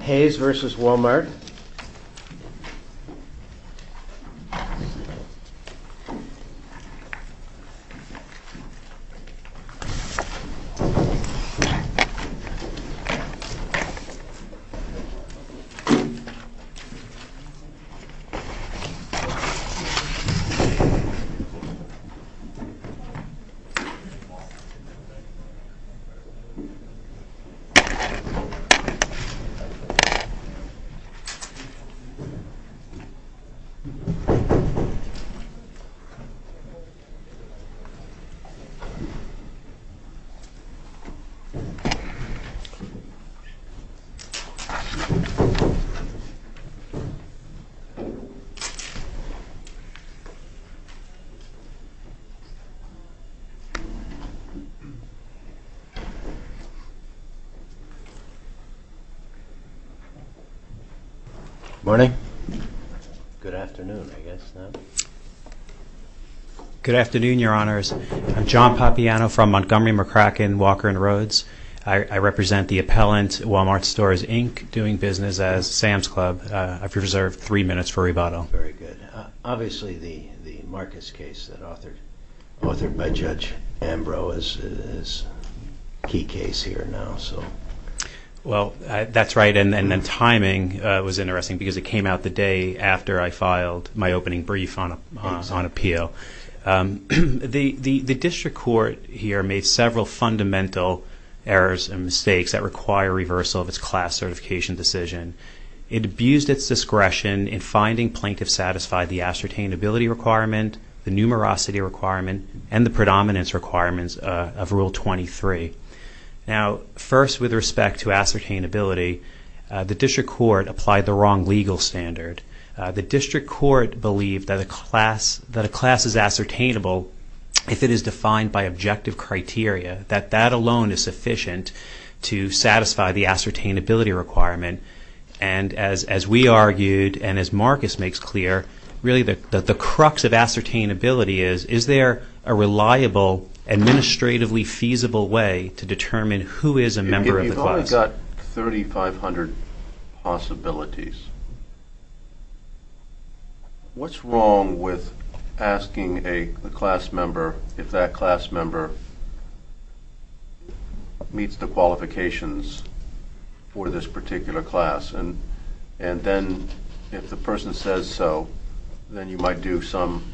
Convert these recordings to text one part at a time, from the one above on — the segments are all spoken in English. Hayes vs. Wal-Mart Hayes vs. Wal-Mart Good afternoon, Your Honors. I'm John Papiano from Montgomery-McCracken, Walker & Rhodes. I represent the appellant, Wal-Mart Stores, Inc., doing business as Sam's Club. I've reserved three minutes for rebuttal. Obviously, the Marcus case that was authored by Judge Ambrose is a key case here now. Well, that's right, and the timing was interesting because it came out the day after I filed my opening brief on appeal. The district court here made several fundamental errors and mistakes that require reversal of its class certification decision. It abused its discretion in finding plaintiffs satisfied the ascertainability requirement, the numerosity requirement, and the predominance requirements of Rule 23. Now, first, with respect to ascertainability, the district court applied the wrong legal standard. The district court believed that a class is ascertainable if it is defined by objective criteria, that that alone is sufficient to satisfy the ascertainability requirement. And as we argued and as Marcus makes clear, really the crux of ascertainability is, is there a reliable, administratively feasible way to determine who is a member of the class? You've only got 3,500 possibilities. What's wrong with asking a class member if that class member meets the qualifications for this particular class? And then, if the person says so, then you might do some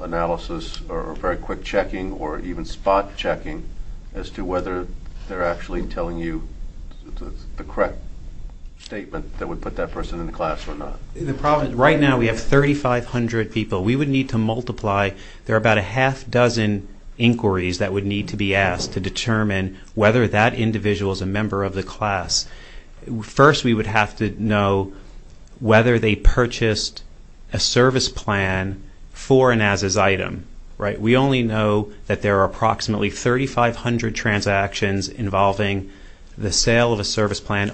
analysis or very quick checking or even spot checking as to whether they're actually telling you the correct statement that would put that person in the class or not. Right now, we have 3,500 people. We would need to multiply. There are about a half dozen inquiries that would need to be asked to determine whether that individual is a member of the class. First, we would have to know whether they purchased a service plan for an as-is item. We only know that there are approximately 3,500 transactions involving the sale of a That's the only exclusion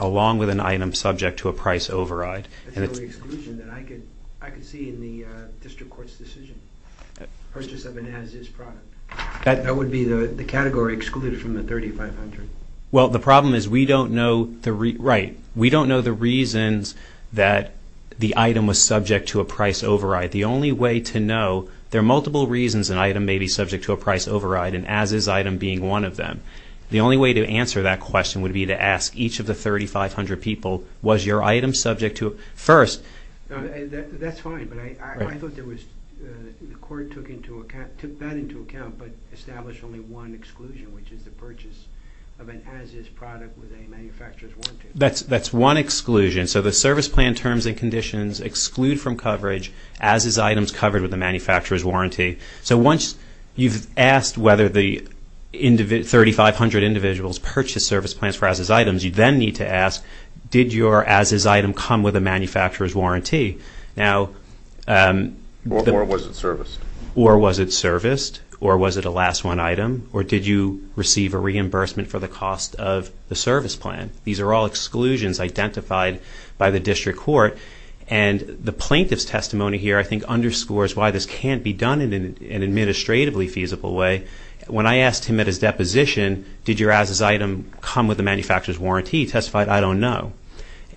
that I could see in the district court's decision. Purchase of an as-is product. That would be the category excluded from the 3,500. Well, the problem is we don't know the reasons that the item was subject to a price override. The only way to know, there are multiple reasons an item may be subject to a price override and as-is item being one of them. The only way to answer that question would be to ask each of the 3,500 people, was your item subject to it? First, That's fine, but I thought the court took that into account but established only one exclusion, which is the purchase of an as-is product with a manufacturer's warranty. That's one exclusion. So the service plan terms and conditions exclude from coverage as-is items covered with a manufacturer's warranty. So once you've asked whether the 3,500 individuals purchased service plans for as-is items, you then need to ask, did your as-is item come with a manufacturer's warranty? Or was it serviced? Or was it serviced? Or was it a last one item? Or did you receive a reimbursement for the cost of the service plan? These are all exclusions identified by the district court. The plaintiff's testimony here I think underscores why this can't be done in an administratively feasible way. When I asked him at his deposition, did your as-is item come with a manufacturer's warranty, he testified, I don't know.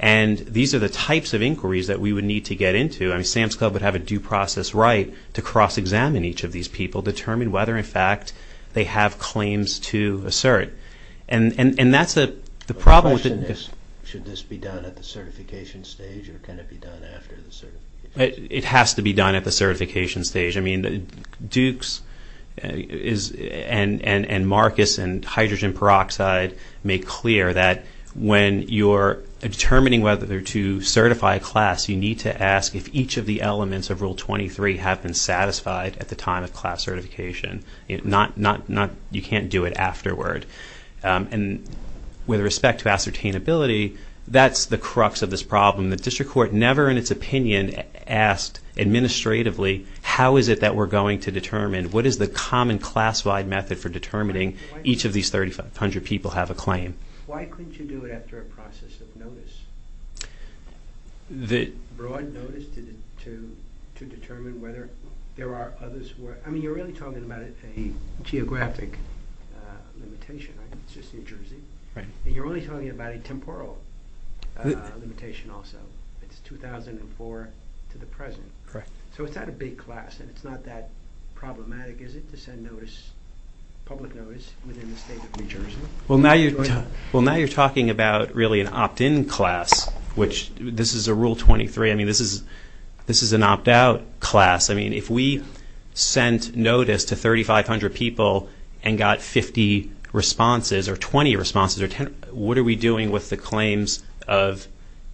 These are the types of inquiries that we would need to get into. SAMHSA would have a due process right to cross-examine each of these people, determine whether, in fact, they have claims to assert. And that's the problem. Should this be done at the certification stage, or can it be done after the certification? It has to be done at the certification stage. I mean, Dukes and Marcus and Hydrogen Peroxide make clear that when you're determining whether to certify a class, you need to ask if each of the elements of Rule 23 have been satisfied at the time of class certification. You can't do it afterward. And with respect to ascertainability, that's the crux of this problem. The district court never in its opinion asked administratively, how is it that we're going to determine, what is the common class-wide method for determining each of these 3,500 people have a claim? Why couldn't you do it after a process of notice? Broad notice to determine whether there are others who are, I mean, you're really talking about a geographic limitation. It's just New Jersey. And you're only talking about a temporal limitation also. It's 2004 to the present. So it's not a big class, and it's not that problematic, is it, to send notice, public notice, within the state of New Jersey? Well, now you're talking about really an opt-in class, which this is a Rule 23. I mean, this is an opt-out class. I mean, if we sent notice to 3,500 people and got 50 responses or 20 responses or 10, what are we doing with the claims of,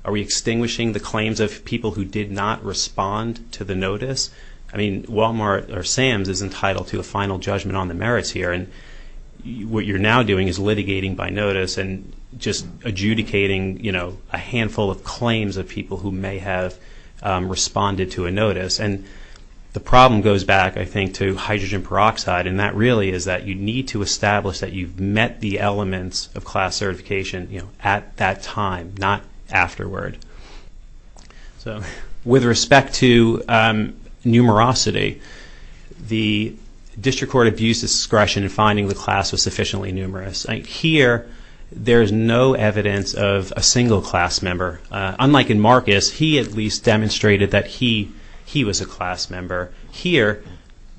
are we extinguishing the claims of people who did not respond to the notice? I mean, Walmart or Sam's is entitled to a final judgment on the merits here. And what you're now doing is litigating by notice and just adjudicating a handful of claims of people who may have responded to a notice. And the problem goes back, I think, to hydrogen peroxide, and that really is that you need to establish that you've met the elements of class certification at that time, not afterward. With respect to numerosity, the district court abused discretion in finding the class was sufficiently numerous. Here, there is no evidence of a single class member. Unlike in Marcus, he at least demonstrated that he was a class member. Here,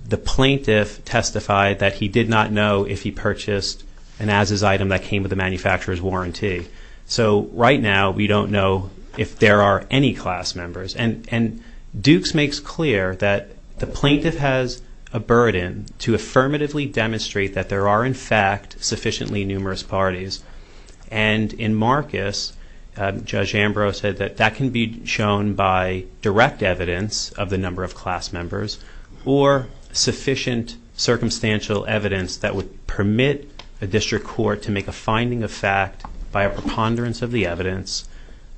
the plaintiff testified that he did not know if he purchased an as-is item that came with the manufacturer's warranty. So right now, we don't know if there are any class members. And Dukes makes clear that the plaintiff has a burden to affirmatively demonstrate that there are, in fact, sufficiently numerous parties. And in Marcus, Judge Ambrose said that that can be shown by direct evidence of the number of class members or sufficient circumstantial evidence that would permit a district court to make a finding of fact by a preponderance of the evidence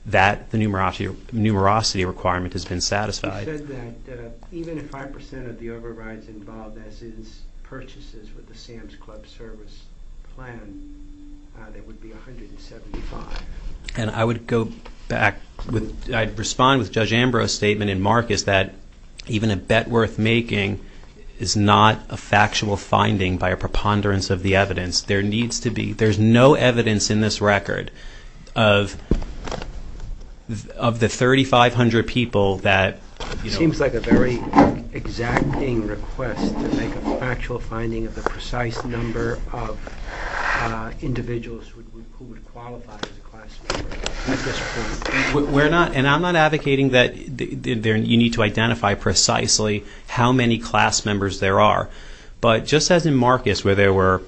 that the numerosity requirement has been satisfied. You said that even if 5% of the overrides involved as-is purchases with the Sam's Club service plan, that would be 175. And I would go back. I'd respond with Judge Ambrose's statement in Marcus that even a bet worth making is not a factual finding by a preponderance of the evidence. There's no evidence in this record of the 3,500 people that... It seems like a very exacting request to make a factual finding of the precise number of individuals who would qualify as a class member at this point. And I'm not advocating that you need to identify precisely how many class members there are. But just as in Marcus where there were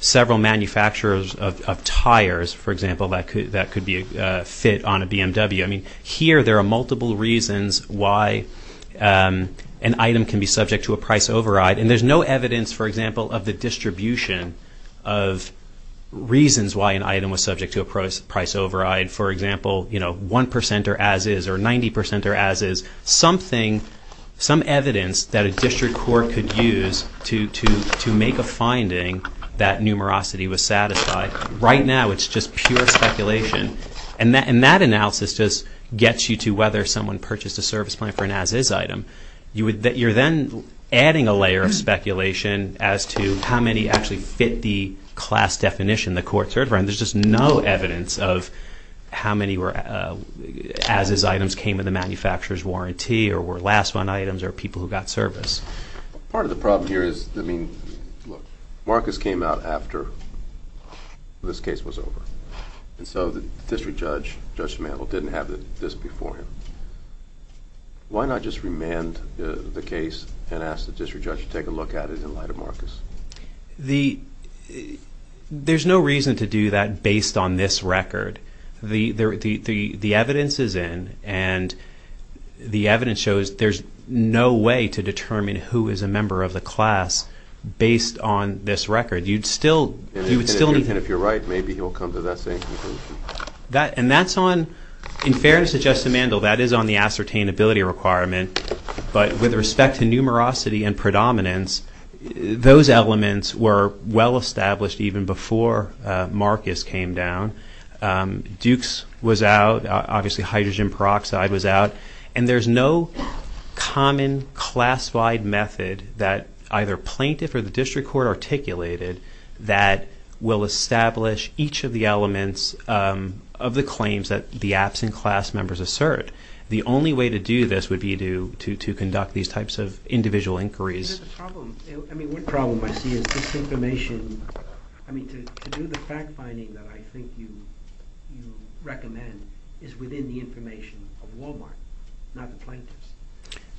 several manufacturers of tires, for example, that could be a fit on a BMW. I mean, here there are multiple reasons why an item can be subject to a price override. And there's no evidence, for example, of the distribution of reasons why an item was subject to a price override. For example, 1% are as-is or 90% are as-is. There's something, some evidence that a district court could use to make a finding that numerosity was satisfied. Right now it's just pure speculation. And that analysis just gets you to whether someone purchased a service plan for an as-is item. You're then adding a layer of speculation as to how many actually fit the class definition the court served. And there's just no evidence of how many were as-is items came in the manufacturer's warranty or were last one items or people who got service. Part of the problem here is, I mean, look, Marcus came out after this case was over. And so the district judge, Judge Mantle, didn't have this before him. Why not just remand the case and ask the district judge to take a look at it in light of Marcus? The, there's no reason to do that based on this record. The evidence is in, and the evidence shows there's no way to determine who is a member of the class based on this record. You'd still, you would still need. And if you're right, maybe he'll come to that same conclusion. And that's on, in fairness to Justice Mantle, that is on the ascertainability requirement. But with respect to numerosity and predominance, those elements were well established even before Marcus came down. Duke's was out. Obviously, hydrogen peroxide was out. And there's no common classified method that either plaintiff or the district court articulated that will establish each of the elements of the claims that the absent class members assert. The only way to do this would be to conduct these types of individual inquiries. The problem, I mean, one problem I see is this information, I mean, to do the fact finding that I think you recommend is within the information of Walmart, not the plaintiffs.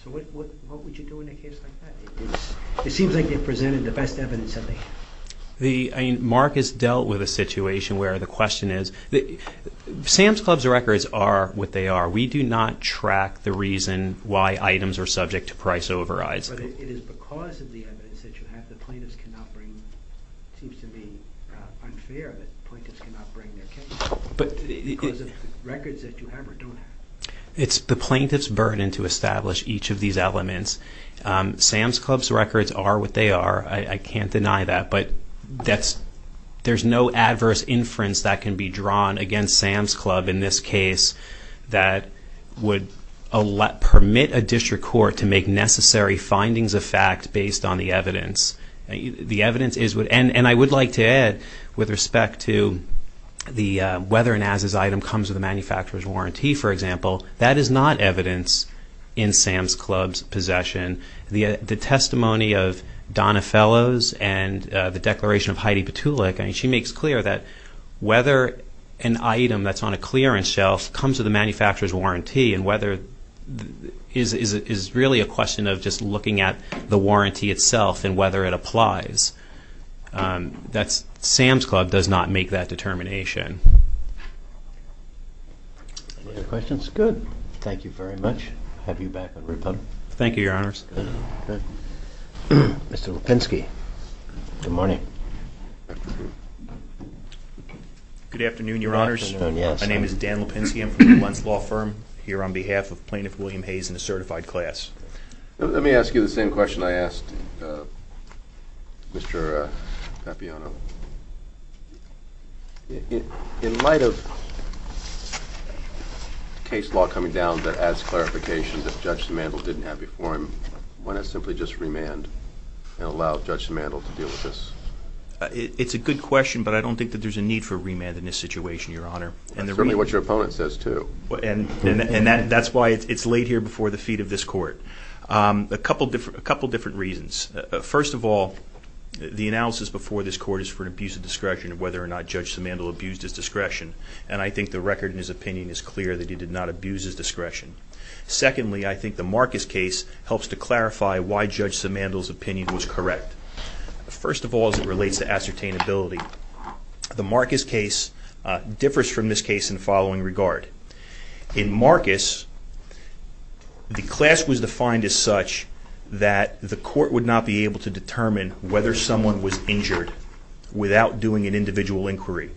So what would you do in a case like that? It seems like they've presented the best evidence of it. The, I mean, Marcus dealt with a situation where the question is, Sam's Club's records are what they are. We do not track the reason why items are subject to price overrides. But it is because of the evidence that you have that plaintiffs cannot bring, it seems to me unfair that plaintiffs cannot bring their case because of records that you have or don't have. It's the plaintiff's burden to establish each of these elements. Sam's Club's records are what they are. I can't deny that. But that's, there's no adverse inference that can be drawn against Sam's Club in this case that would permit a district court to make necessary findings of fact based on the evidence. The evidence is what, and I would like to add with respect to the, whether or not this item comes with a manufacturer's warranty, for example, the testimony of Donna Fellows and the declaration of Heidi Petulik, I mean, she makes clear that whether an item that's on a clearance shelf comes with a manufacturer's warranty and whether, is really a question of just looking at the warranty itself and whether it applies. That's, Sam's Club does not make that determination. Any other questions? Good. Thank you very much. Thank you, Your Honors. Mr. Lipinski. Good morning. Good afternoon, Your Honors. Good afternoon, yes. My name is Dan Lipinski. I'm from Newmont's Law Firm here on behalf of Plaintiff William Hayes in a certified class. Let me ask you the same question I asked Mr. Papiano. In light of case law coming down that adds clarification that Judge Samandel didn't have before him, why not simply just remand and allow Judge Samandel to deal with this? It's a good question, but I don't think that there's a need for a remand in this situation, Your Honor. Certainly what your opponent says, too. And that's why it's laid here before the feet of this court. A couple different reasons. First of all, the analysis before this court is for an abuse of discretion of whether or not Judge Samandel abused his discretion. And I think the record in his opinion is clear that he did not abuse his discretion. Secondly, I think the Marcus case helps to clarify why Judge Samandel's opinion was correct. First of all, as it relates to ascertainability, the Marcus case differs from this case in the following regard. In Marcus, the class was defined as such that the court would not be able to determine whether someone was injured without doing an individual inquiry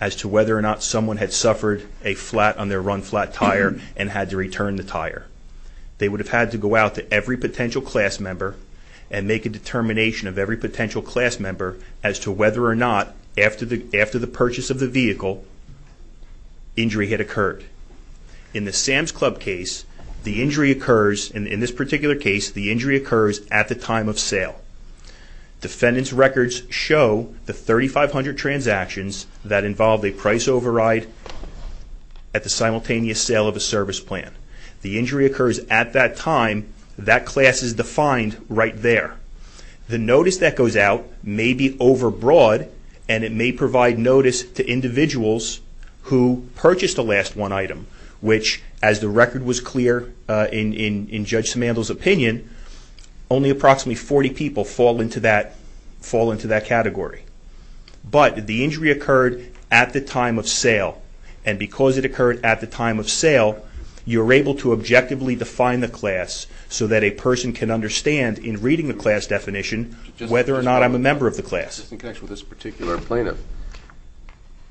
as to whether or not someone had suffered a flat on their run-flat tire and had to return the tire. They would have had to go out to every potential class member and make a determination of every potential class member as to whether or not, after the purchase of the vehicle, injury had occurred. In the Sam's Club case, the injury occurs at the time of sale. Defendant's records show the 3,500 transactions that involved a price override at the simultaneous sale of a service plan. The injury occurs at that time. That class is defined right there. The notice that goes out may be overbroad, and it may provide notice to individuals who purchased the last one item, which, as the record was clear in Judge Samandel's opinion, only approximately 40 people fall into that category. But the injury occurred at the time of sale, and because it occurred at the time of sale, you're able to objectively define the class so that a person can understand, in reading the class definition, whether or not I'm a member of the class. Just in connection with this particular plaintiff,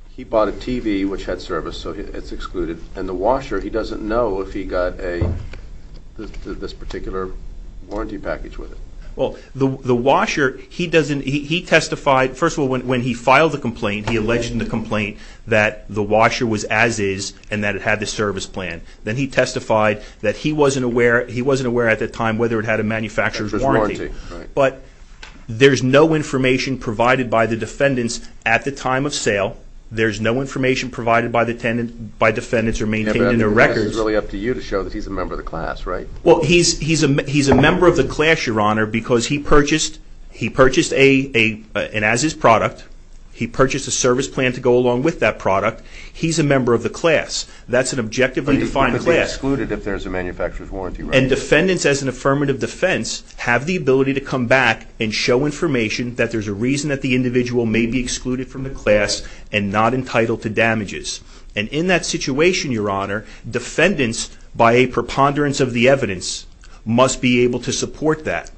he bought a TV, which had service, so it's excluded, and the washer, he doesn't know if he got this particular warranty package with it. Well, the washer, he testified, first of all, when he filed the complaint, he alleged in the complaint that the washer was as-is and that it had the service plan. Then he testified that he wasn't aware at the time whether it had a manufacturer's warranty. But there's no information provided by the defendants at the time of sale. There's no information provided by defendants or maintained in their records. This is really up to you to show that he's a member of the class, right? Well, he's a member of the class, Your Honor, because he purchased an as-is product. He purchased a service plan to go along with that product. He's a member of the class. That's an objectively defined class. He's publicly excluded if there's a manufacturer's warranty, right? And defendants, as an affirmative defense, have the ability to come back and show information that there's a reason that the individual may be excluded from the class and not entitled to damages. And in that situation, Your Honor, defendants, by a preponderance of the evidence, must be able to support that.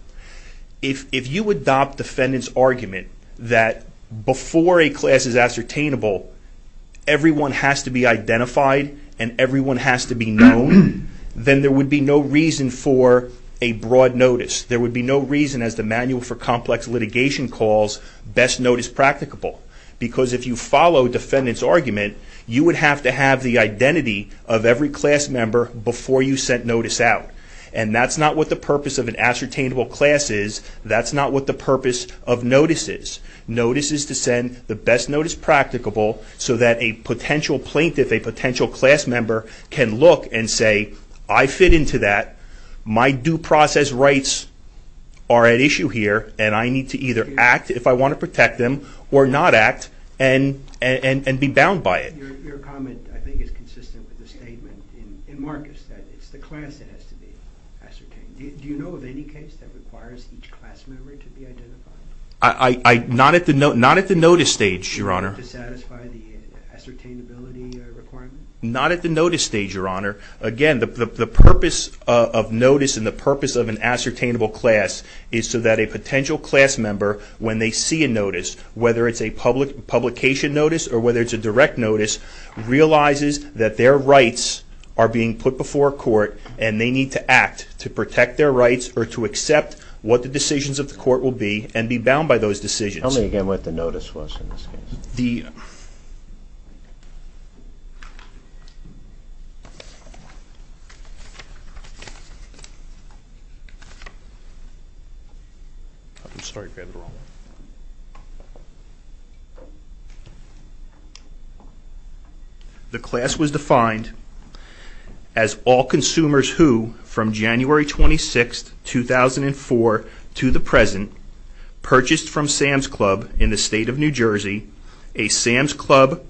If you adopt defendant's argument that before a class is ascertainable, everyone has to be identified and everyone has to be known, then there would be no reason for a broad notice. There would be no reason, as the Manual for Complex Litigation calls, best notice practicable. Because if you follow defendant's argument, you would have to have the identity of every class member before you sent notice out. And that's not what the purpose of an ascertainable class is. That's not what the purpose of notice is. Notice is to send the best notice practicable so that a potential plaintiff, a potential class member, can look and say, I fit into that, my due process rights are at issue here, and I need to either act if I want to protect them or not act and be bound by it. Your comment, I think, is consistent with the statement in Marcus that it's the class that has to be ascertained. Do you know of any case that requires each class member to be identified? Not at the notice stage, Your Honor. To satisfy the ascertainability requirement? Not at the notice stage, Your Honor. Again, the purpose of notice and the purpose of an ascertainable class is so that a potential class member, when they see a notice, whether it's a publication notice or whether it's a direct notice, realizes that their rights are being put before court and they need to act to protect their rights or to accept what the decisions of the court will be and be bound by those decisions. Tell me again what the notice was in this case. The... The class was defined as all consumers who, from January 26, 2004 to the present, purchased from Sam's Club in the state of New Jersey a Sam's Club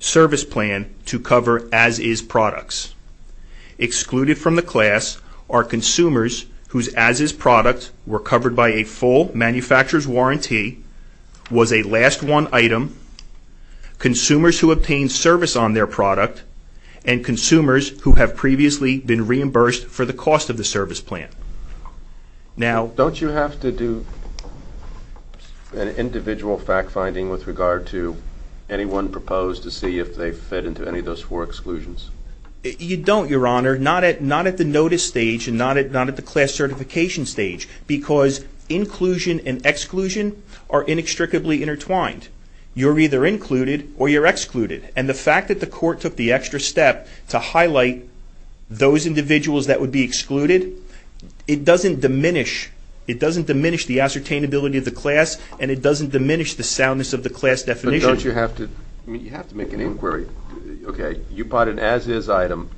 service plan to cover as-is products. Excluded from the class are consumers whose as-is products were covered by a full manufacturer's warranty, was a last one item, consumers who obtained service on their product, and consumers who have previously been reimbursed for the cost of the service plan. Now... Don't you have to do an individual fact-finding with regard to anyone proposed to see if they fit into any of those four exclusions? You don't, Your Honor. Not at the notice stage and not at the class certification stage because inclusion and exclusion are inextricably intertwined. You're either included or you're excluded. And the fact that the court took the extra step to highlight those individuals that would be excluded, it doesn't diminish the ascertainability of the class and it doesn't diminish the soundness of the class definition. But don't you have to... I mean, you have to make an inquiry. Okay, you bought an as-is item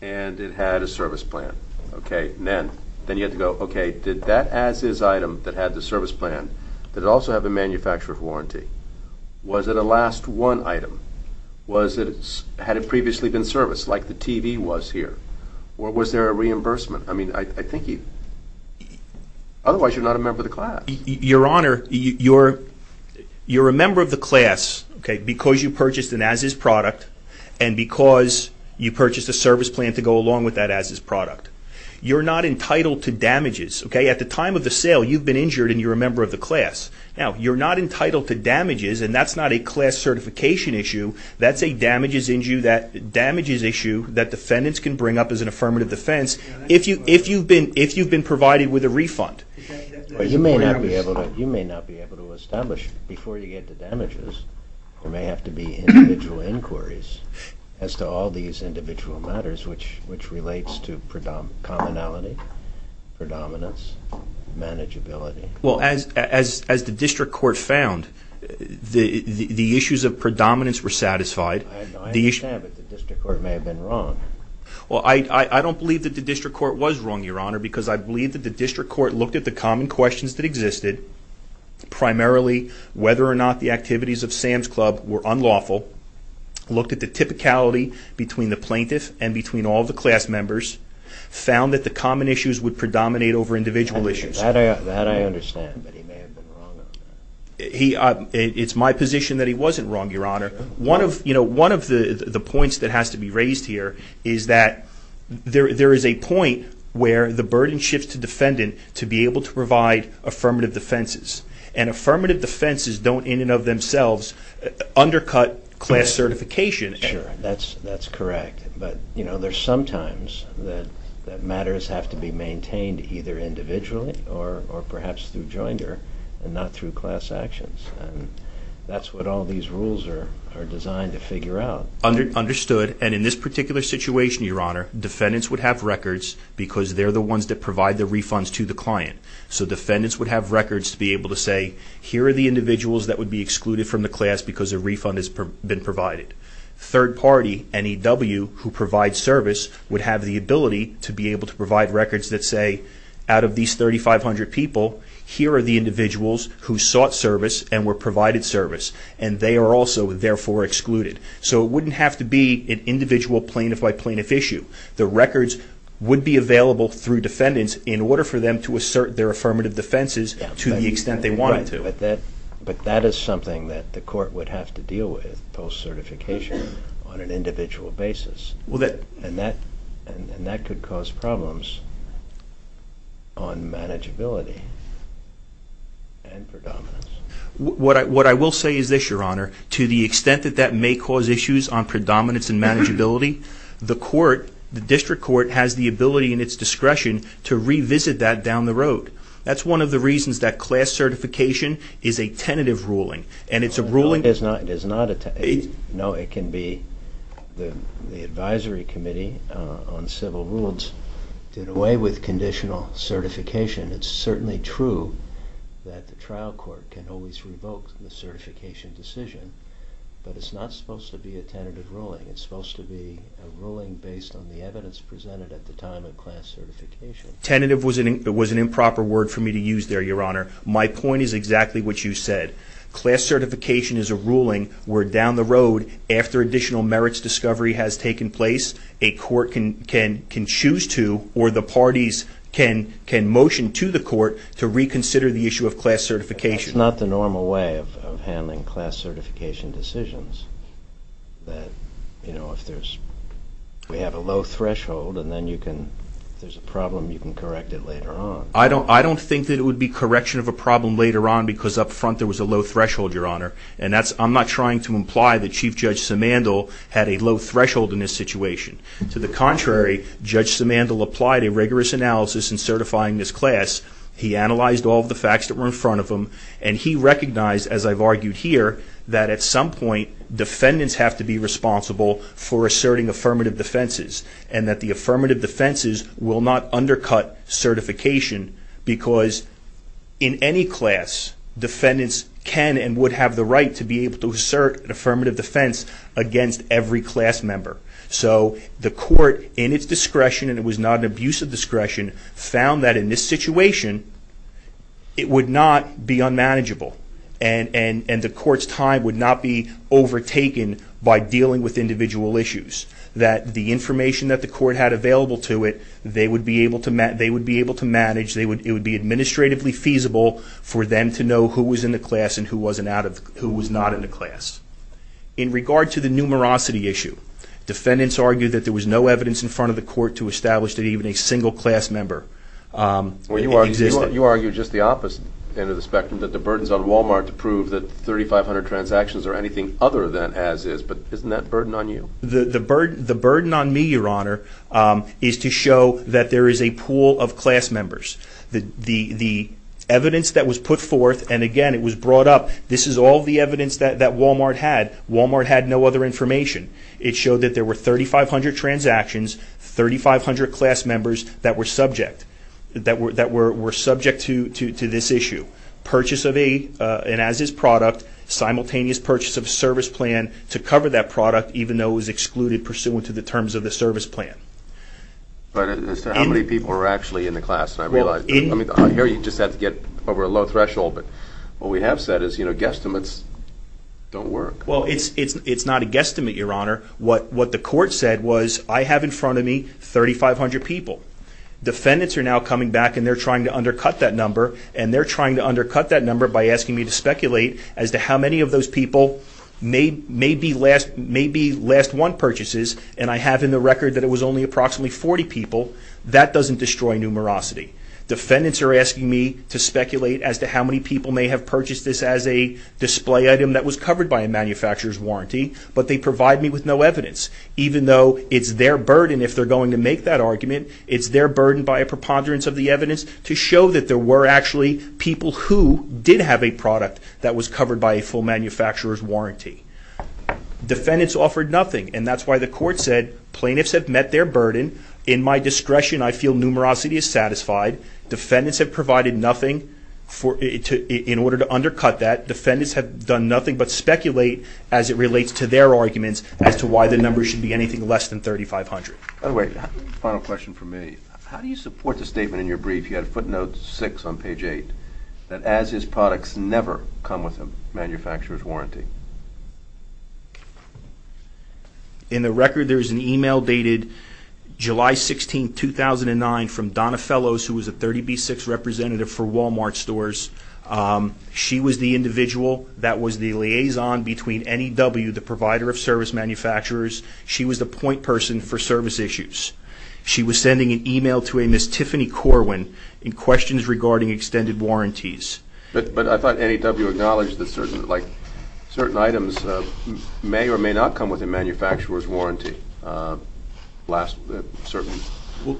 and it had a service plan. Okay, and then you have to go, okay, did that as-is item that had the service plan, did it also have a manufacturer's warranty? Was it a last-one item? Had it previously been serviced like the TV was here? Or was there a reimbursement? I mean, I think you... Otherwise, you're not a member of the class. Your Honor, you're a member of the class, okay, because you purchased an as-is product and because you purchased a service plan to go along with that as-is product. You're not entitled to damages, okay? At the time of the sale, you've been injured and you're a member of the class. Now, you're not entitled to damages, and that's not a class certification issue. That's a damages issue that defendants can bring up as an affirmative defense if you've been provided with a refund. You may not be able to establish, before you get to damages, there may have to be individual inquiries as to all these individual matters which relates to commonality, predominance, manageability. Well, as the district court found, the issues of predominance were satisfied. I understand, but the district court may have been wrong. Well, I don't believe that the district court was wrong, Your Honor, because I believe that the district court looked at the common questions that existed, primarily whether or not the activities of Sam's Club were unlawful, looked at the typicality between the plaintiff and between all the class members, found that the common issues would predominate over individual issues. That I understand, but he may have been wrong on that. It's my position that he wasn't wrong, Your Honor. One of the points that has to be raised here is that there is a point where the burden shifts to defendant to be able to provide affirmative defenses, and affirmative defenses don't in and of themselves undercut class certification. Sure, that's correct. But, you know, there's sometimes that matters have to be maintained either individually or perhaps through joinder and not through class actions, and that's what all these rules are designed to figure out. Understood, and in this particular situation, Your Honor, defendants would have records because they're the ones that provide the refunds to the client. So defendants would have records to be able to say, here are the individuals that would be excluded from the class because a refund has been provided. Third party, NEW, who provides service would have the ability to be able to provide records that say, out of these 3,500 people, here are the individuals who sought service and were provided service, and they are also therefore excluded. So it wouldn't have to be an individual plaintiff by plaintiff issue. The records would be available through defendants in order for them to assert their affirmative defenses to the extent they wanted to. But that is something that the court would have to deal with post-certification on an individual basis, and that could cause problems on manageability and predominance. What I will say is this, Your Honor, to the extent that that may cause issues on predominance and manageability, the court, the district court, has the ability and its discretion to revisit that down the road. That's one of the reasons that class certification is a tentative ruling. And it's a ruling... It is not a tentative. No, it can be. The Advisory Committee on Civil Rules did away with conditional certification. It's certainly true that the trial court can always revoke the certification decision, but it's not supposed to be a tentative ruling. It's supposed to be a ruling based on the evidence presented at the time of class certification. Tentative was an improper word for me to use there, Your Honor. My point is exactly what you said. Class certification is a ruling where down the road, after additional merits discovery has taken place, a court can choose to or the parties can motion to the court to reconsider the issue of class certification. That's not the normal way of handling class certification decisions. That, you know, if there's... We have a low threshold, and then you can... If there's a problem, you can correct it later on. I don't think that it would be correction of a problem later on because up front there was a low threshold, Your Honor. And I'm not trying to imply that Chief Judge Simandl had a low threshold in this situation. To the contrary, Judge Simandl applied a rigorous analysis in certifying this class. He analyzed all of the facts that were in front of him, and he recognized, as I've argued here, that at some point defendants have to be responsible for asserting affirmative defenses and that the affirmative defenses will not undercut certification because in any class, defendants can and would have the right to be able to assert an affirmative defense against every class member. So the court, in its discretion, and it was not an abuse of discretion, found that in this situation, it would not be unmanageable and the court's time would not be overtaken by dealing with individual issues. That the information that the court had available to it, they would be able to manage. It would be administratively feasible for them to know who was in the class and who was not in the class. In regard to the numerosity issue, defendants argued that there was no evidence in front of the court to establish that even a single class member existed. Well, you argue just the opposite end of the spectrum, that the burden's on Walmart to prove that 3,500 transactions are anything other than as is, but isn't that a burden on you? The burden on me, Your Honor, is to show that there is a pool of class members. The evidence that was put forth, and again, it was brought up, this is all the evidence that Walmart had. Walmart had no other information. It showed that there were 3,500 transactions, 3,500 class members that were subject to this issue. Purchase of a, and as is, product, simultaneous purchase of a service plan to cover that product, even though it was excluded pursuant to the terms of the service plan. But as to how many people were actually in the class, and I realize, I mean, I hear you just have to get over a low threshold, but what we have said is, you know, guesstimates don't work. Well, it's not a guesstimate, Your Honor. What the court said was, I have in front of me 3,500 people. Defendants are now coming back, and they're trying to undercut that number, and they're trying to undercut that number by asking me to speculate as to how many of those people may be last one purchases, and I have in the record that it was only approximately 40 people. That doesn't destroy numerosity. Defendants are asking me to speculate as to how many people may have purchased this as a display item that was covered by a manufacturer's warranty, but they provide me with no evidence, even though it's their burden, if they're going to make that argument, it's their burden by a preponderance of the evidence to show that there were actually people who did have a product that was covered by a full manufacturer's warranty. Defendants offered nothing, and that's why the court said, plaintiffs have met their burden. In my discretion, I feel numerosity is satisfied. Defendants have provided nothing in order to undercut that. Defendants have done nothing but speculate as it relates to their arguments as to why the number should be anything less than 3,500. By the way, final question from me. How do you support the statement in your brief, you had footnote 6 on page 8, that as is products never come with a manufacturer's warranty? In the record, there is an email dated July 16, 2009 from Donna Fellows who was a 30B6 representative for Walmart stores. She was the individual that was the liaison between NEW, the provider of service manufacturers. She was the point person for service issues. She was sending an email to a Ms. Tiffany Corwin in questions regarding extended warranties. But I thought NEW acknowledged that certain items may or may not come with a manufacturer's warranty. Certainly.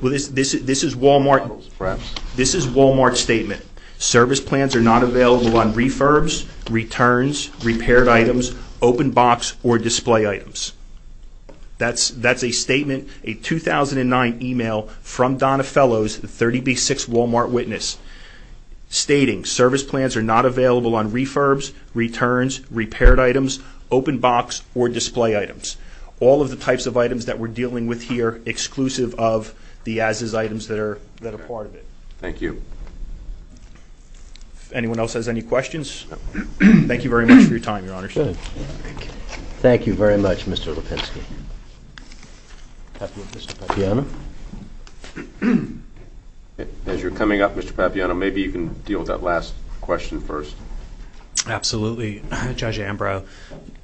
This is Walmart's statement. Service plans are not available on refurbs, returns, repaired items, open box, or display items. That's a statement, a 2009 email from Donna Fellows, the 30B6 Walmart witness, stating service plans are not available on refurbs, returns, repaired items, open box, or display items. All of the types of items that we're dealing with here, exclusive of the as is items that are part of it. Thank you. If anyone else has any questions, thank you very much for your time, Your Honor. Thank you very much, Mr. Lipinski. Mr. Papiano? As you're coming up, Mr. Papiano, maybe you can deal with that last question first. Absolutely, Judge Ambrose.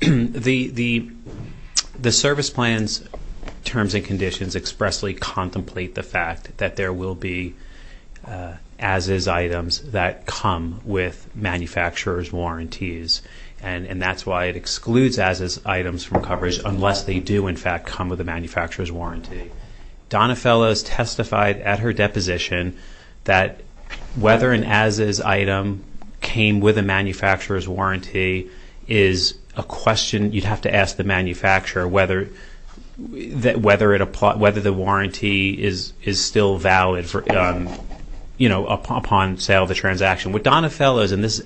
The service plans terms and conditions expressly contemplate the fact that there will be as is items that come with manufacturer's warranties, and that's why it excludes as is items from coverage unless they do, in fact, come with a manufacturer's warranty. Donna Fellows testified at her deposition that whether an as is item came with a manufacturer's warranty is a question you'd have to ask the manufacturer whether the warranty is still valid upon sale of the transaction. With Donna Fellows, and there's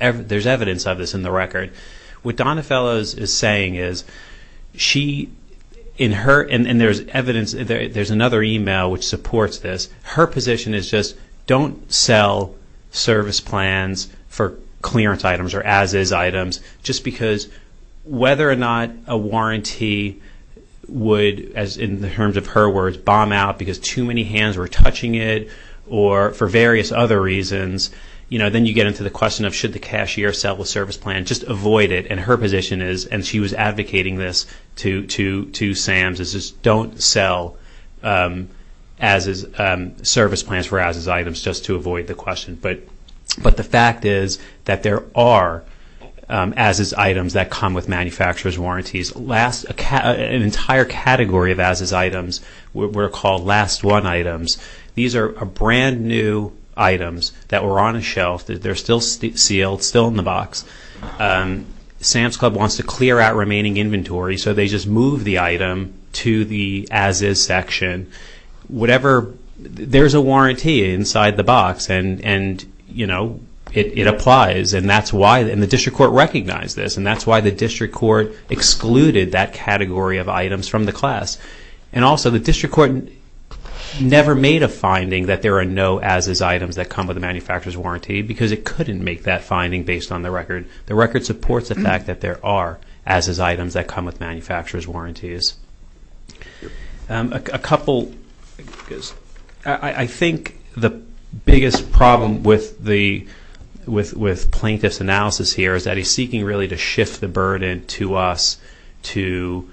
evidence of this in the record, what Donna Fellows is saying is she, and there's evidence, there's another email which supports this, her position is just don't sell service plans for clearance items or as is items just because whether or not a warranty would, as in the terms of her words, bomb out because too many hands were touching it or for various other reasons, then you get into the question of should the cashier sell the service plan. Just avoid it, and her position is, and she was advocating this to SAMS, is just don't sell service plans for as is items just to avoid the question. But the fact is that there are as is items that come with manufacturer's warranties. An entire category of as is items were called last one items. These are brand new items that were on a shelf. They're still sealed, still in the box. SAMS Club wants to clear out remaining inventory, so they just move the item to the as is section. There's a warranty inside the box, and it applies, and the district court recognized this, and that's why the district court excluded that category of items from the class. Also, the district court never made a finding that there are no as is items that come with a manufacturer's warranty because it couldn't make that finding based on the record. The record supports the fact that there are as is items that come with manufacturer's warranties. A couple, I think the biggest problem with plaintiff's analysis here is that he's seeking really to shift the burden to us to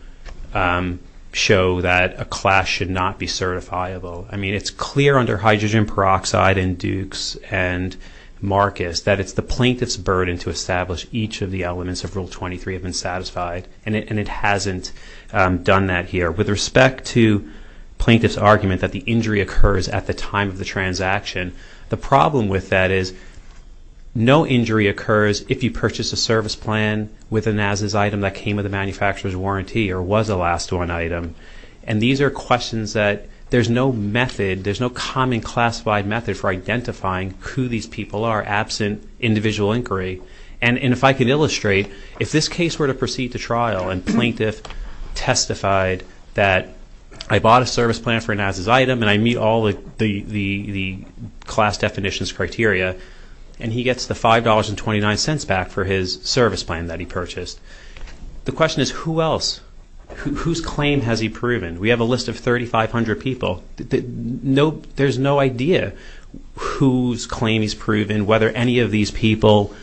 show that a class should not be certifiable. I mean, it's clear under hydrogen peroxide in Dukes and Marcus that it's the plaintiff's burden to establish each of the elements of Rule 23 have been satisfied, and it hasn't done that here. With respect to plaintiff's argument that the injury occurs at the time of the transaction, the problem with that is no injury occurs if you purchase a service plan with an as is item that came with a manufacturer's warranty or was a last one item. These are questions that there's no method, for identifying who these people are absent individual inquiry. And if I can illustrate, if this case were to proceed to trial and plaintiff testified that I bought a service plan for an as is item and I meet all the class definitions criteria, and he gets the $5.29 back for his service plan that he purchased, the question is who else? Whose claim has he proven? We have a list of 3,500 people. There's no idea whose claim he's proven, whether any of these people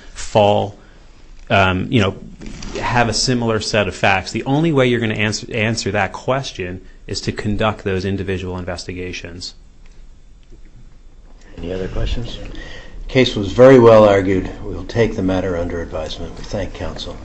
have a similar set of facts. The only way you're going to answer that question is to conduct those individual investigations. Any other questions? The case was very well argued. We will take the matter under advisement. We thank counsel.